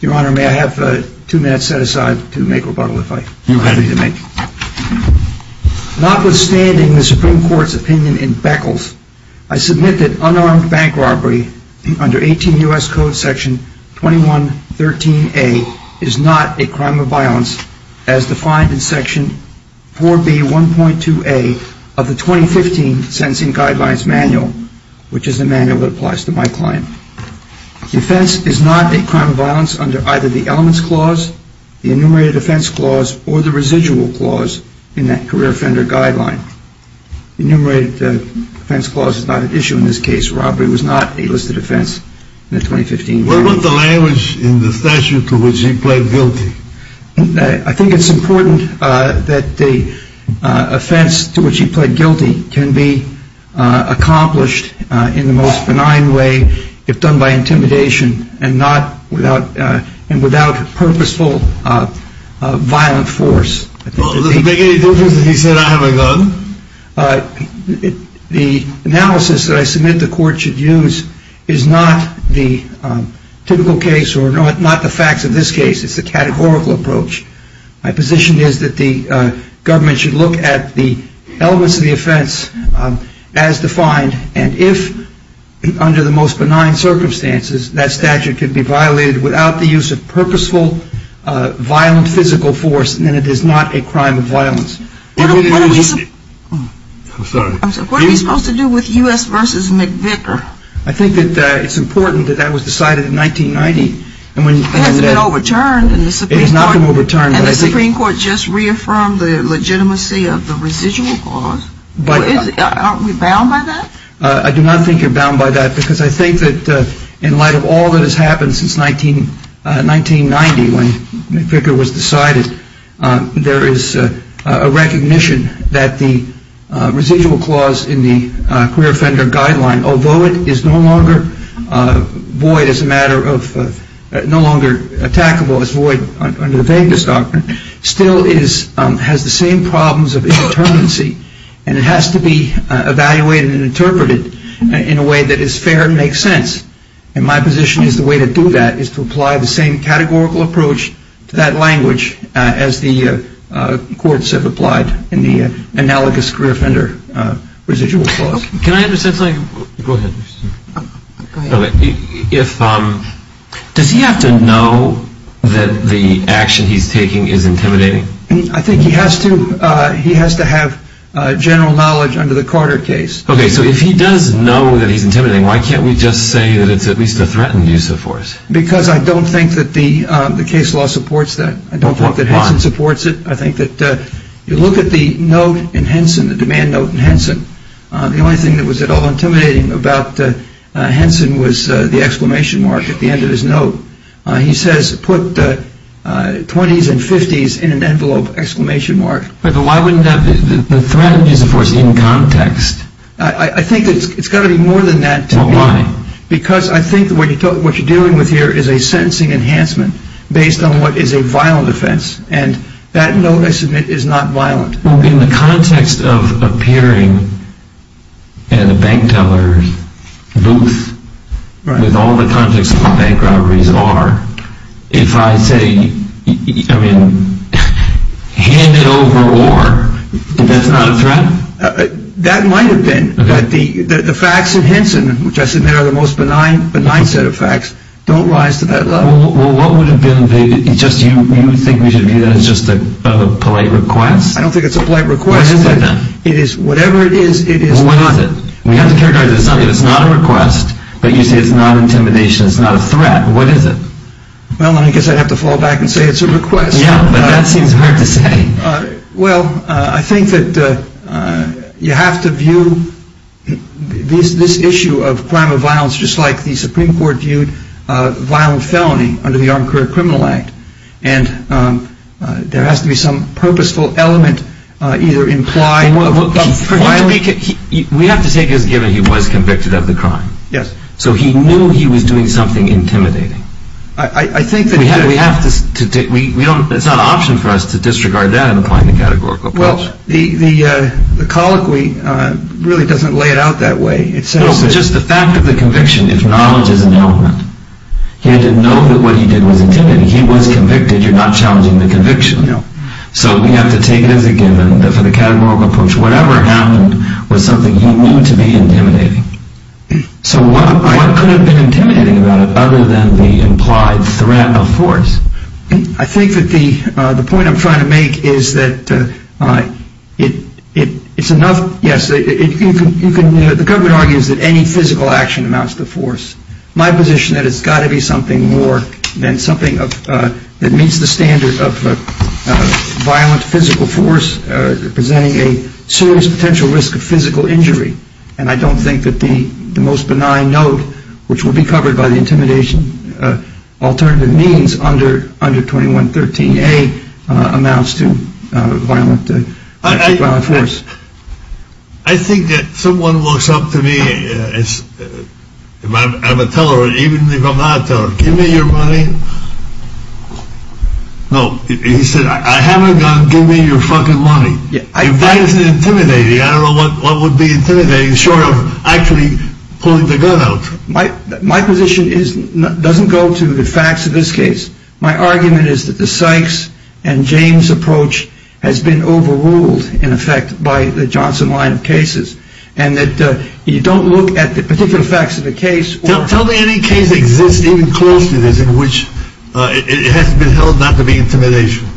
Your Honor, may I have two minutes set aside to make a rebuttal if I am happy to make. Notwithstanding the Supreme Court's opinion in Beckles, I submit that unarmed bank robbery under 18 U.S. Code Section 2113A is not a crime of violence as defined in Section 4B.1.2A of the 2015 Sentencing Guidelines Manual, which is the manual that applies to my client. Defense is not a crime of violence under either the Elements Clause, the Enumerated Offense Clause, or the Residual Clause in that Career Offender Guideline. The Enumerated Offense Clause is not at issue in this case. Robbery was not a listed offense in the 2015 Manual. Where was the language in the statute to which he pled guilty? I think it's important that the offense to which he pled guilty can be accomplished in the most benign way, if done by intimidation, and without purposeful violent force. Does it make any difference that he said, I have a gun? The analysis that I submit the Court should use is not the typical case or not the facts of this case. It's the categorical approach. My position is that the government should look at the elements of the offense as defined, and if, under the most benign circumstances, that statute can be violated without the use of purposeful violent physical force, then it is not a crime of violence. What are we supposed to do with U.S. v. McVicker? I think that it's important that that was decided in 1990, and when you It hasn't been overturned in the Supreme Court. It has not been overturned. And the Supreme Court just reaffirmed the legitimacy of the Residual Clause. Aren't we bound by that? I do not think you're bound by that, because I think that in light of all that has happened since 1990, when McVicker was decided, there is a recognition that the Residual Clause in the Career Offender Guideline, although it is no longer void as a matter of, no longer attackable as void under the vagueness doctrine, still has the same problems of indeterminacy, and it has to be evaluated and interpreted in a way that is fair and makes sense. And my position is the way to do that is to apply the same categorical approach to that language as the courts have applied in the analogous Career Offender Residual Clause. Can I add to that something? Go ahead. Does he have to know that the action he's taking is intimidating? I think he has to. He has to have general knowledge under the Carter case. Okay, so if he does know that he's intimidating, why can't we just say that it's at least a threatened use of force? Because I don't think that the case law supports that. I don't think that Henson supports it. I think that if you look at the note in Henson, the demand note in Henson, the only thing that was at all intimidating about Henson was the exclamation mark at the end of his note. He says, put 20s and 50s in an envelope, exclamation mark. But why wouldn't that be? The threatened use of force is in context. I think it's got to be more than that to me. Well, why? Because I think what you're dealing with here is a sentencing enhancement based on what is a violent offense. And that note, I submit, is not violent. Well, in the context of appearing in a bank teller's booth, with all the context of what bank robberies are, if I say, I mean, hand it over or, that's not a threat? That might have been. But the facts in Henson, which I submit are the most benign set of facts, don't rise to that level. Well, what would have been the, just you think we should view that as just a polite request? I don't think it's a polite request. What is it then? It is, whatever it is, it is. Well, what is it? We have to characterize this. It's not a request, but you say it's not intimidation, it's not a threat. What is it? Well, then I guess I'd have to fall back and say it's a request. Yeah, but that seems hard to say. Well, I think that you have to view this issue of crime of violence just like the Supreme Court viewed violent felony under the Armed Career Criminal Act. And there has to be some purposeful element either implied of violence. We have to take as a given he was convicted of the crime. Yes. So he knew he was doing something intimidating. It's not an option for us to disregard that in applying the categorical approach. Well, the colloquy really doesn't lay it out that way. No, but just the fact of the conviction, if knowledge is an element, he had to know that what he did was intimidating. He was convicted, you're not challenging the conviction. No. So we have to take it as a given that for the categorical approach, whatever happened was something he knew to be intimidating. So what could have been intimidating about it other than the implied threat of force? I think that the point I'm trying to make is that it's enough, yes, the government argues that any physical action amounts to force. My position is that it's got to be something more than something that meets the standard of violent physical force presenting a serious potential risk of physical injury. And I don't think that the most benign note, which will be covered by the intimidation alternative means under 2113A, amounts to violent force. I think that someone looks up to me, I'm a teller, even if I'm not a teller, give me your money. No, he said, I have a gun, give me your fucking money. If that isn't intimidating, I don't know what would be intimidating short of actually pulling the gun out. My position doesn't go to the facts of this case. My argument is that the Sykes and James approach has been overruled, in effect, by the Johnson line of cases and that you don't look at the particular facts of the case. Tell me any case that exists even close to this in which it has been held not to be intimidation.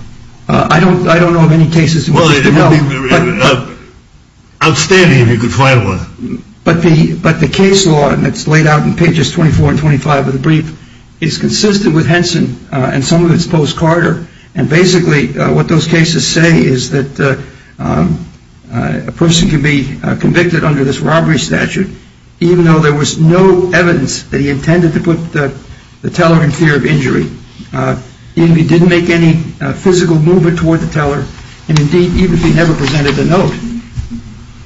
I don't know of any cases. Outstanding if you could find one. But the case law, and it's laid out in pages 24 and 25 of the brief, is consistent with Henson and some of its post-Carter, and basically what those cases say is that a person can be convicted under this robbery statute even though there was no evidence that he intended to put the teller in fear of injury. He didn't make any physical movement toward the teller, and indeed, even if he never presented the note.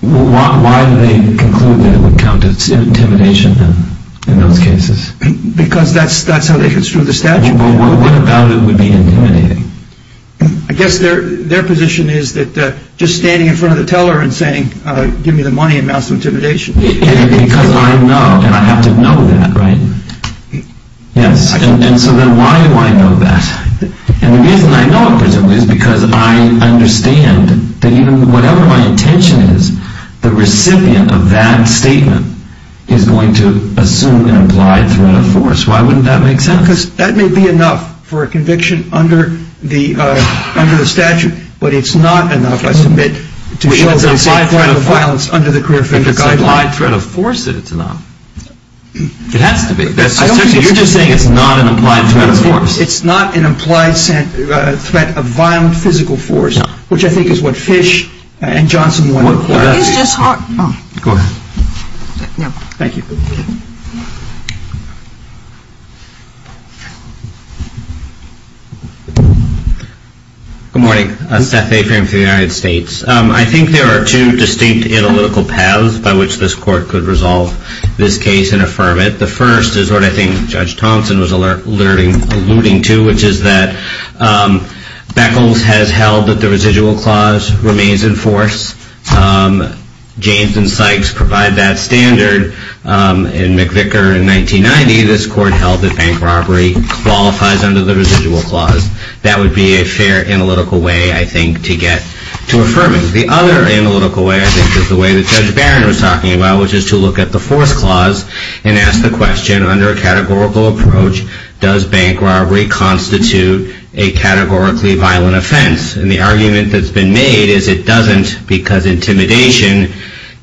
Why do they conclude that it would count as intimidation in those cases? Because that's how they construe the statute. Well, what about it would be intimidating? I guess their position is that just standing in front of the teller and saying, give me the money amounts to intimidation. Because I know, and I have to know that, right? Yes, and so then why do I know that? And the reason I know it, presumably, is because I understand that even whatever my intention is, the recipient of that statement is going to assume an implied threat of force. Why wouldn't that make sense? Because that may be enough for a conviction under the statute, but it's not enough, I submit, to show that it's a threat of violence under the career figure guideline. If it's an implied threat of force, then it's not. It has to be. You're just saying it's not an implied threat of force. It's not an implied threat of violent physical force, which I think is what Fish and Johnson wanted to point out. It's just hard. Go ahead. Thank you. Good morning. Seth A. from the United States. I think there are two distinct analytical paths by which this court could resolve this case and affirm it. The first is what I think Judge Thompson was alluding to, which is that Beckles has held that the residual clause remains in force. James and Sykes provide that standard. In McVicker in 1990, this court held that bank robbery qualifies under the residual clause. That would be a fair analytical way, I think, to get to affirming. The other analytical way, I think, is the way that Judge Barron was talking about, which is to look at the force clause and ask the question, under a categorical approach, does bank robbery constitute a categorically violent offense? And the argument that's been made is it doesn't because intimidation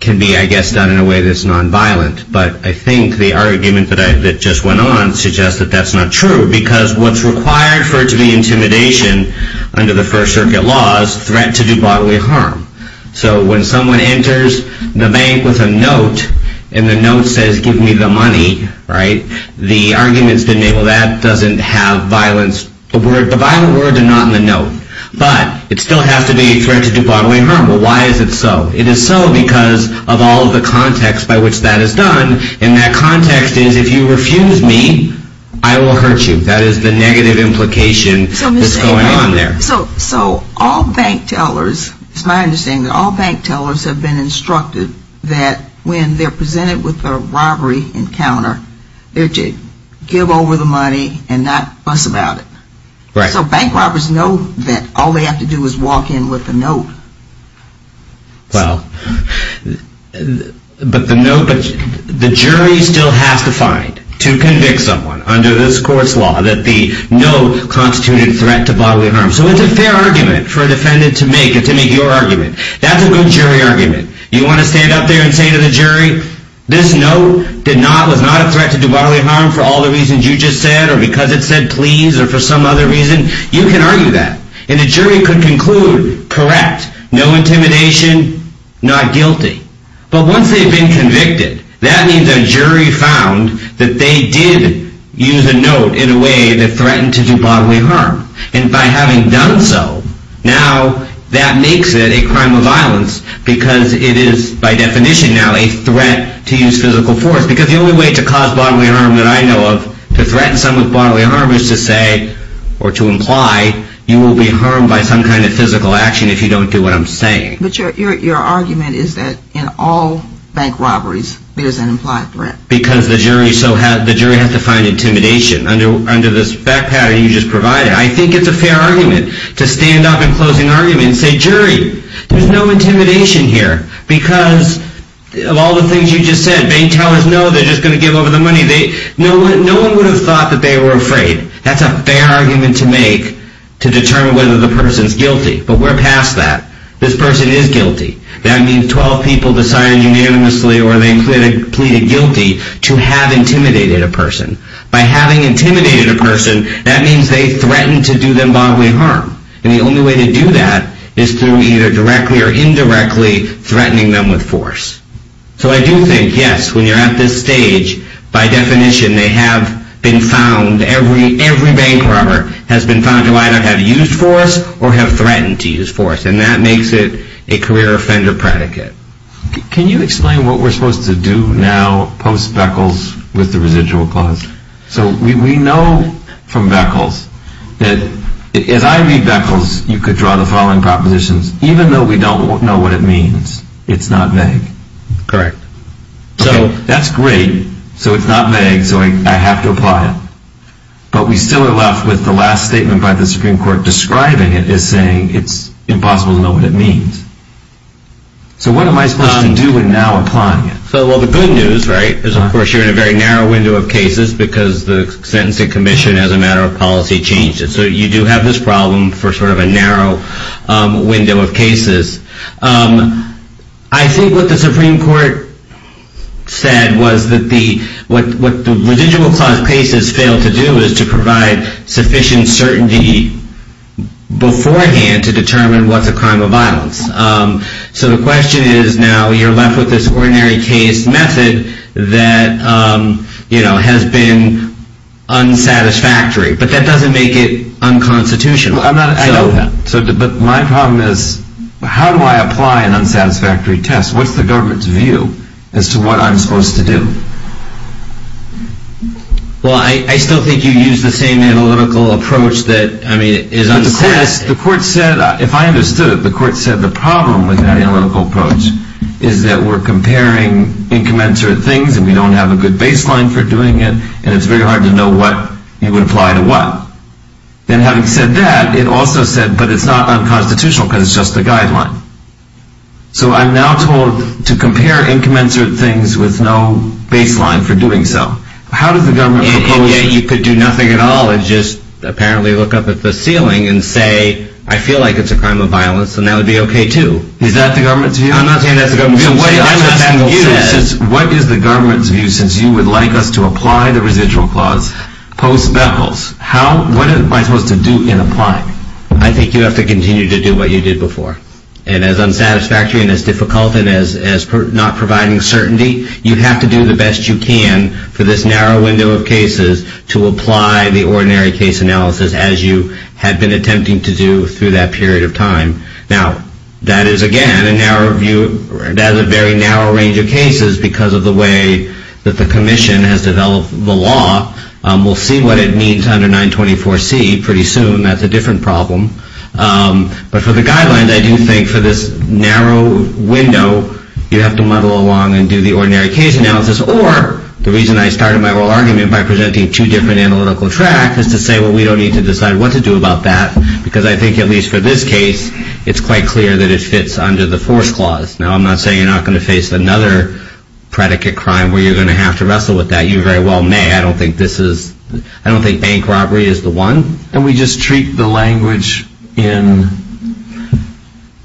can be, I guess, done in a way that's nonviolent. But I think the argument that just went on suggests that that's not true because what's required for it to be intimidation under the First Circuit law is threat to do bodily harm. So when someone enters the bank with a note and the note says, give me the money, right, the arguments that enable that doesn't have violence. The violent word did not in the note. But it still has to be a threat to do bodily harm. Well, why is it so? It is so because of all of the context by which that is done. And that context is, if you refuse me, I will hurt you. That is the negative implication that's going on there. So all bank tellers, it's my understanding that all bank tellers have been instructed that when they're presented with a robbery encounter, they're to give over the money and not fuss about it. Right. So bank robbers know that all they have to do is walk in with a note. Well, but the jury still has to find, to convict someone under this court's law, that the note constituted threat to bodily harm. So it's a fair argument for a defendant to make, to make your argument. That's a good jury argument. You want to stand up there and say to the jury, this note was not a threat to do bodily harm for all the reasons you just said or because it said please or for some other reason? You can argue that. And a jury could conclude, correct, no intimidation, not guilty. But once they've been convicted, that means a jury found that they did use a note in a way that threatened to do bodily harm. And by having done so, now that makes it a crime of violence because it is, by definition now, a threat to use physical force. Because the only way to cause bodily harm that I know of, to threaten someone with bodily harm, is to say or to imply you will be harmed by some kind of physical action if you don't do what I'm saying. But your argument is that in all bank robberies, there's an implied threat. Because the jury has to find intimidation under this fact pattern you just provided. I think it's a fair argument to stand up in closing argument and say, jury, there's no intimidation here because of all the things you just said. Bank tellers know they're just going to give over the money. No one would have thought that they were afraid. That's a fair argument to make to determine whether the person's guilty. But we're past that. This person is guilty. That means 12 people decided unanimously or they pleaded guilty to have intimidated a person. By having intimidated a person, that means they threatened to do them bodily harm. And the only way to do that is through either directly or indirectly threatening them with force. So I do think, yes, when you're at this stage, by definition they have been found, every bank robber has been found to either have used force or have threatened to use force. And that makes it a career offender predicate. Can you explain what we're supposed to do now post-Beckles with the residual clause? So we know from Beckles that, as I read Beckles, you could draw the following propositions. Even though we don't know what it means, it's not vague. Correct. So that's great. So it's not vague. So I have to apply it. But we still are left with the last statement by the Supreme Court describing it as saying it's impossible to know what it means. So what am I supposed to do in now applying it? Well, the good news, right, is of course you're in a very narrow window of cases because the sentencing commission as a matter of policy changed it. So you do have this problem for sort of a narrow window of cases. I think what the Supreme Court said was that what the residual clause cases fail to do is to provide sufficient certainty beforehand to determine what's a crime of violence. So the question is now you're left with this ordinary case method that has been unsatisfactory. But that doesn't make it unconstitutional. I know that. But my problem is how do I apply an unsatisfactory test? What's the government's view as to what I'm supposed to do? Well, I still think you use the same analytical approach that, I mean, is unsatisfactory. But the court said, if I understood it, the court said the problem with that analytical approach is that we're comparing incommensurate things and we don't have a good baseline for doing it, and it's very hard to know what you would apply to what. Then having said that, it also said, but it's not unconstitutional because it's just a guideline. So I'm now told to compare incommensurate things with no baseline for doing so. How does the government propose that? And yet you could do nothing at all and just apparently look up at the ceiling and say, I feel like it's a crime of violence, and that would be okay too. Is that the government's view? I'm not saying that's the government's view. What is the government's view since you would like us to apply the residual clause post-Beckles? What am I supposed to do in applying? I think you have to continue to do what you did before. And as unsatisfactory and as difficult and as not providing certainty, you have to do the best you can for this narrow window of cases to apply the ordinary case analysis as you had been attempting to do through that period of time. Now, that is, again, a very narrow range of cases because of the way that the commission has developed the law. We'll see what it means under 924C pretty soon. That's a different problem. But for the guidelines, I do think for this narrow window, you have to muddle along and do the ordinary case analysis. Or the reason I started my oral argument by presenting two different analytical tracks is to say, well, we don't need to decide what to do about that, because I think at least for this case, it's quite clear that it fits under the force clause. Now, I'm not saying you're not going to face another predicate crime where you're going to have to wrestle with that. You very well may. I don't think bank robbery is the one. And we just treat the language in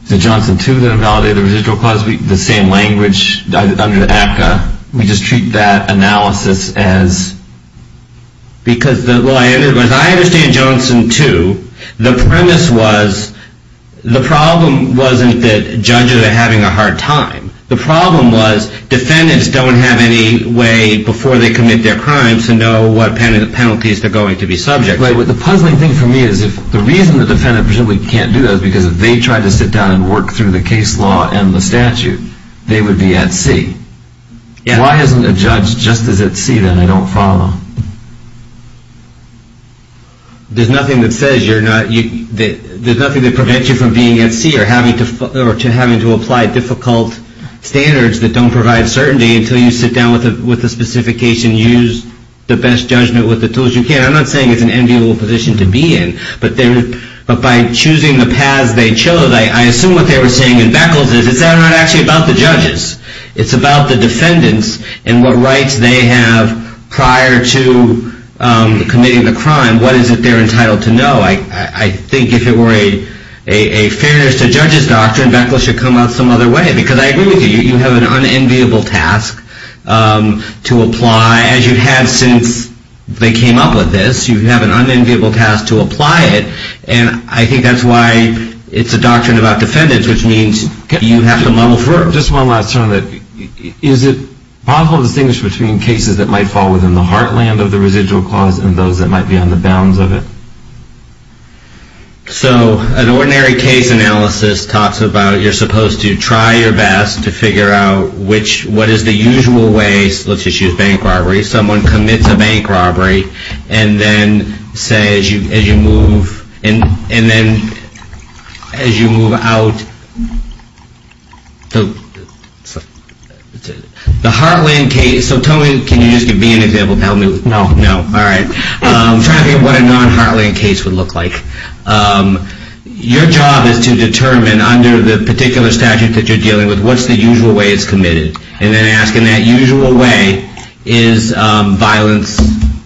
the Johnson 2 that invalidated the residual clause, the same language under the ACCA. We just treat that analysis as because the way I understand it, the premise was the problem wasn't that judges are having a hard time. The problem was defendants don't have any way before they commit their crimes to know what penalties they're going to be subject to. The puzzling thing for me is the reason the defendant presumably can't do that is because if they tried to sit down and work through the case law and the statute, they would be at C. Why isn't a judge just as at C then? I don't follow. There's nothing that prevents you from being at C or having to apply difficult standards that don't provide certainty until you sit down with the specification, use the best judgment with the tools you can. I'm not saying it's an enviable position to be in, but by choosing the paths they chose, I assume what they were saying in Beckles is it's not actually about the judges. It's about the defendants and what rights they have prior to committing the crime. What is it they're entitled to know? I think if it were a fairness to judges doctrine, Beckles should come out some other way because I agree with you. You have an unenviable task to apply, as you have since they came up with this. You have an unenviable task to apply it, and I think that's why it's a doctrine about defendants, which means you have to model for them. Just one last term. Is it possible to distinguish between cases that might fall within the heartland of the residual clause and those that might be on the bounds of it? So an ordinary case analysis talks about you're supposed to try your best to figure out what is the usual way. Let's just use bank robbery. Someone commits a bank robbery, and then say as you move out the heartland case. So tell me, can you just give me an example to help me? No. No. All right. I'm trying to think of what a non-heartland case would look like. Your job is to determine under the particular statute that you're dealing with what's the usual way it's committed, and then ask in that usual way is violence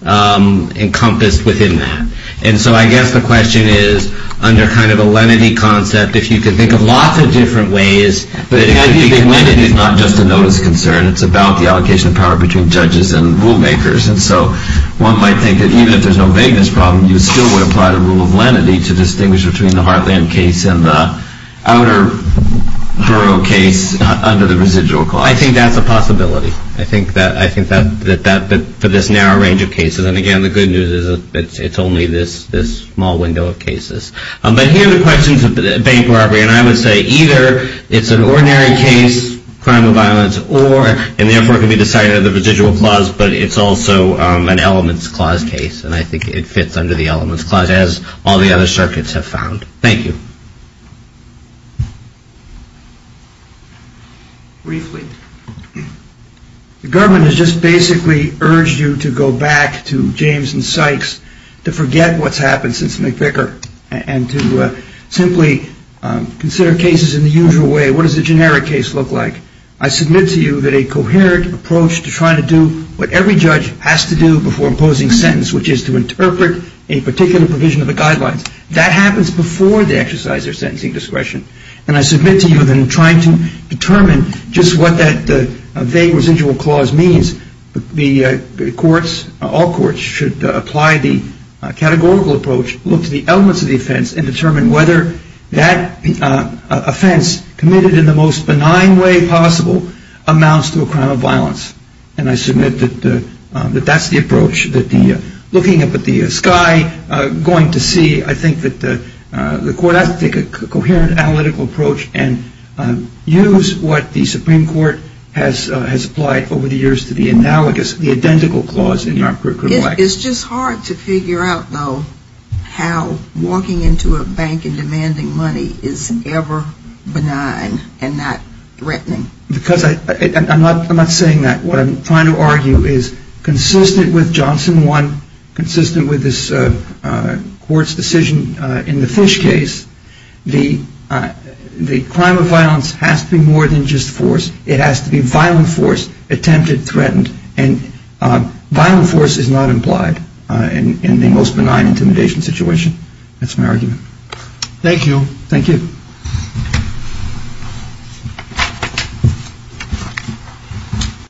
encompassed within that. And so I guess the question is under kind of a lenity concept, if you could think of lots of different ways. But I think lenity is not just a notice concern. It's about the allocation of power between judges and rule makers. And so one might think that even if there's no vagueness problem, you still would apply the rule of lenity to distinguish between the heartland case and the outer borough case under the residual clause. Well, I think that's a possibility. I think that for this narrow range of cases, and again the good news is it's only this small window of cases. But here are the questions of bank robbery, and I would say either it's an ordinary case, crime or violence, or and therefore it can be decided under the residual clause, but it's also an elements clause case. And I think it fits under the elements clause, as all the other circuits have found. Thank you. Briefly. The government has just basically urged you to go back to James and Sykes to forget what's happened since McVicker and to simply consider cases in the usual way. What does a generic case look like? I submit to you that a coherent approach to trying to do what every judge has to do before imposing sentence, which is to interpret a particular provision of the guidelines, that happens before they exercise their sentencing discretion. And I submit to you that in trying to determine just what that vague residual clause means, the courts, all courts, should apply the categorical approach, look to the elements of the offense, and determine whether that offense committed in the most benign way possible amounts to a crime of violence. And I submit that that's the approach, looking up at the sky, going to see, I think, that the court has to take a coherent analytical approach and use what the Supreme Court has applied over the years to the analogous, the identical clause in your record. It's just hard to figure out, though, how walking into a bank and demanding money is ever benign and not threatening. Because I'm not saying that. What I'm trying to argue is consistent with Johnson 1, consistent with this court's decision in the Fish case, the crime of violence has to be more than just force. It has to be violent force, attempted, threatened. And violent force is not implied in the most benign intimidation situation. That's my argument. Thank you. Thank you. Thank you.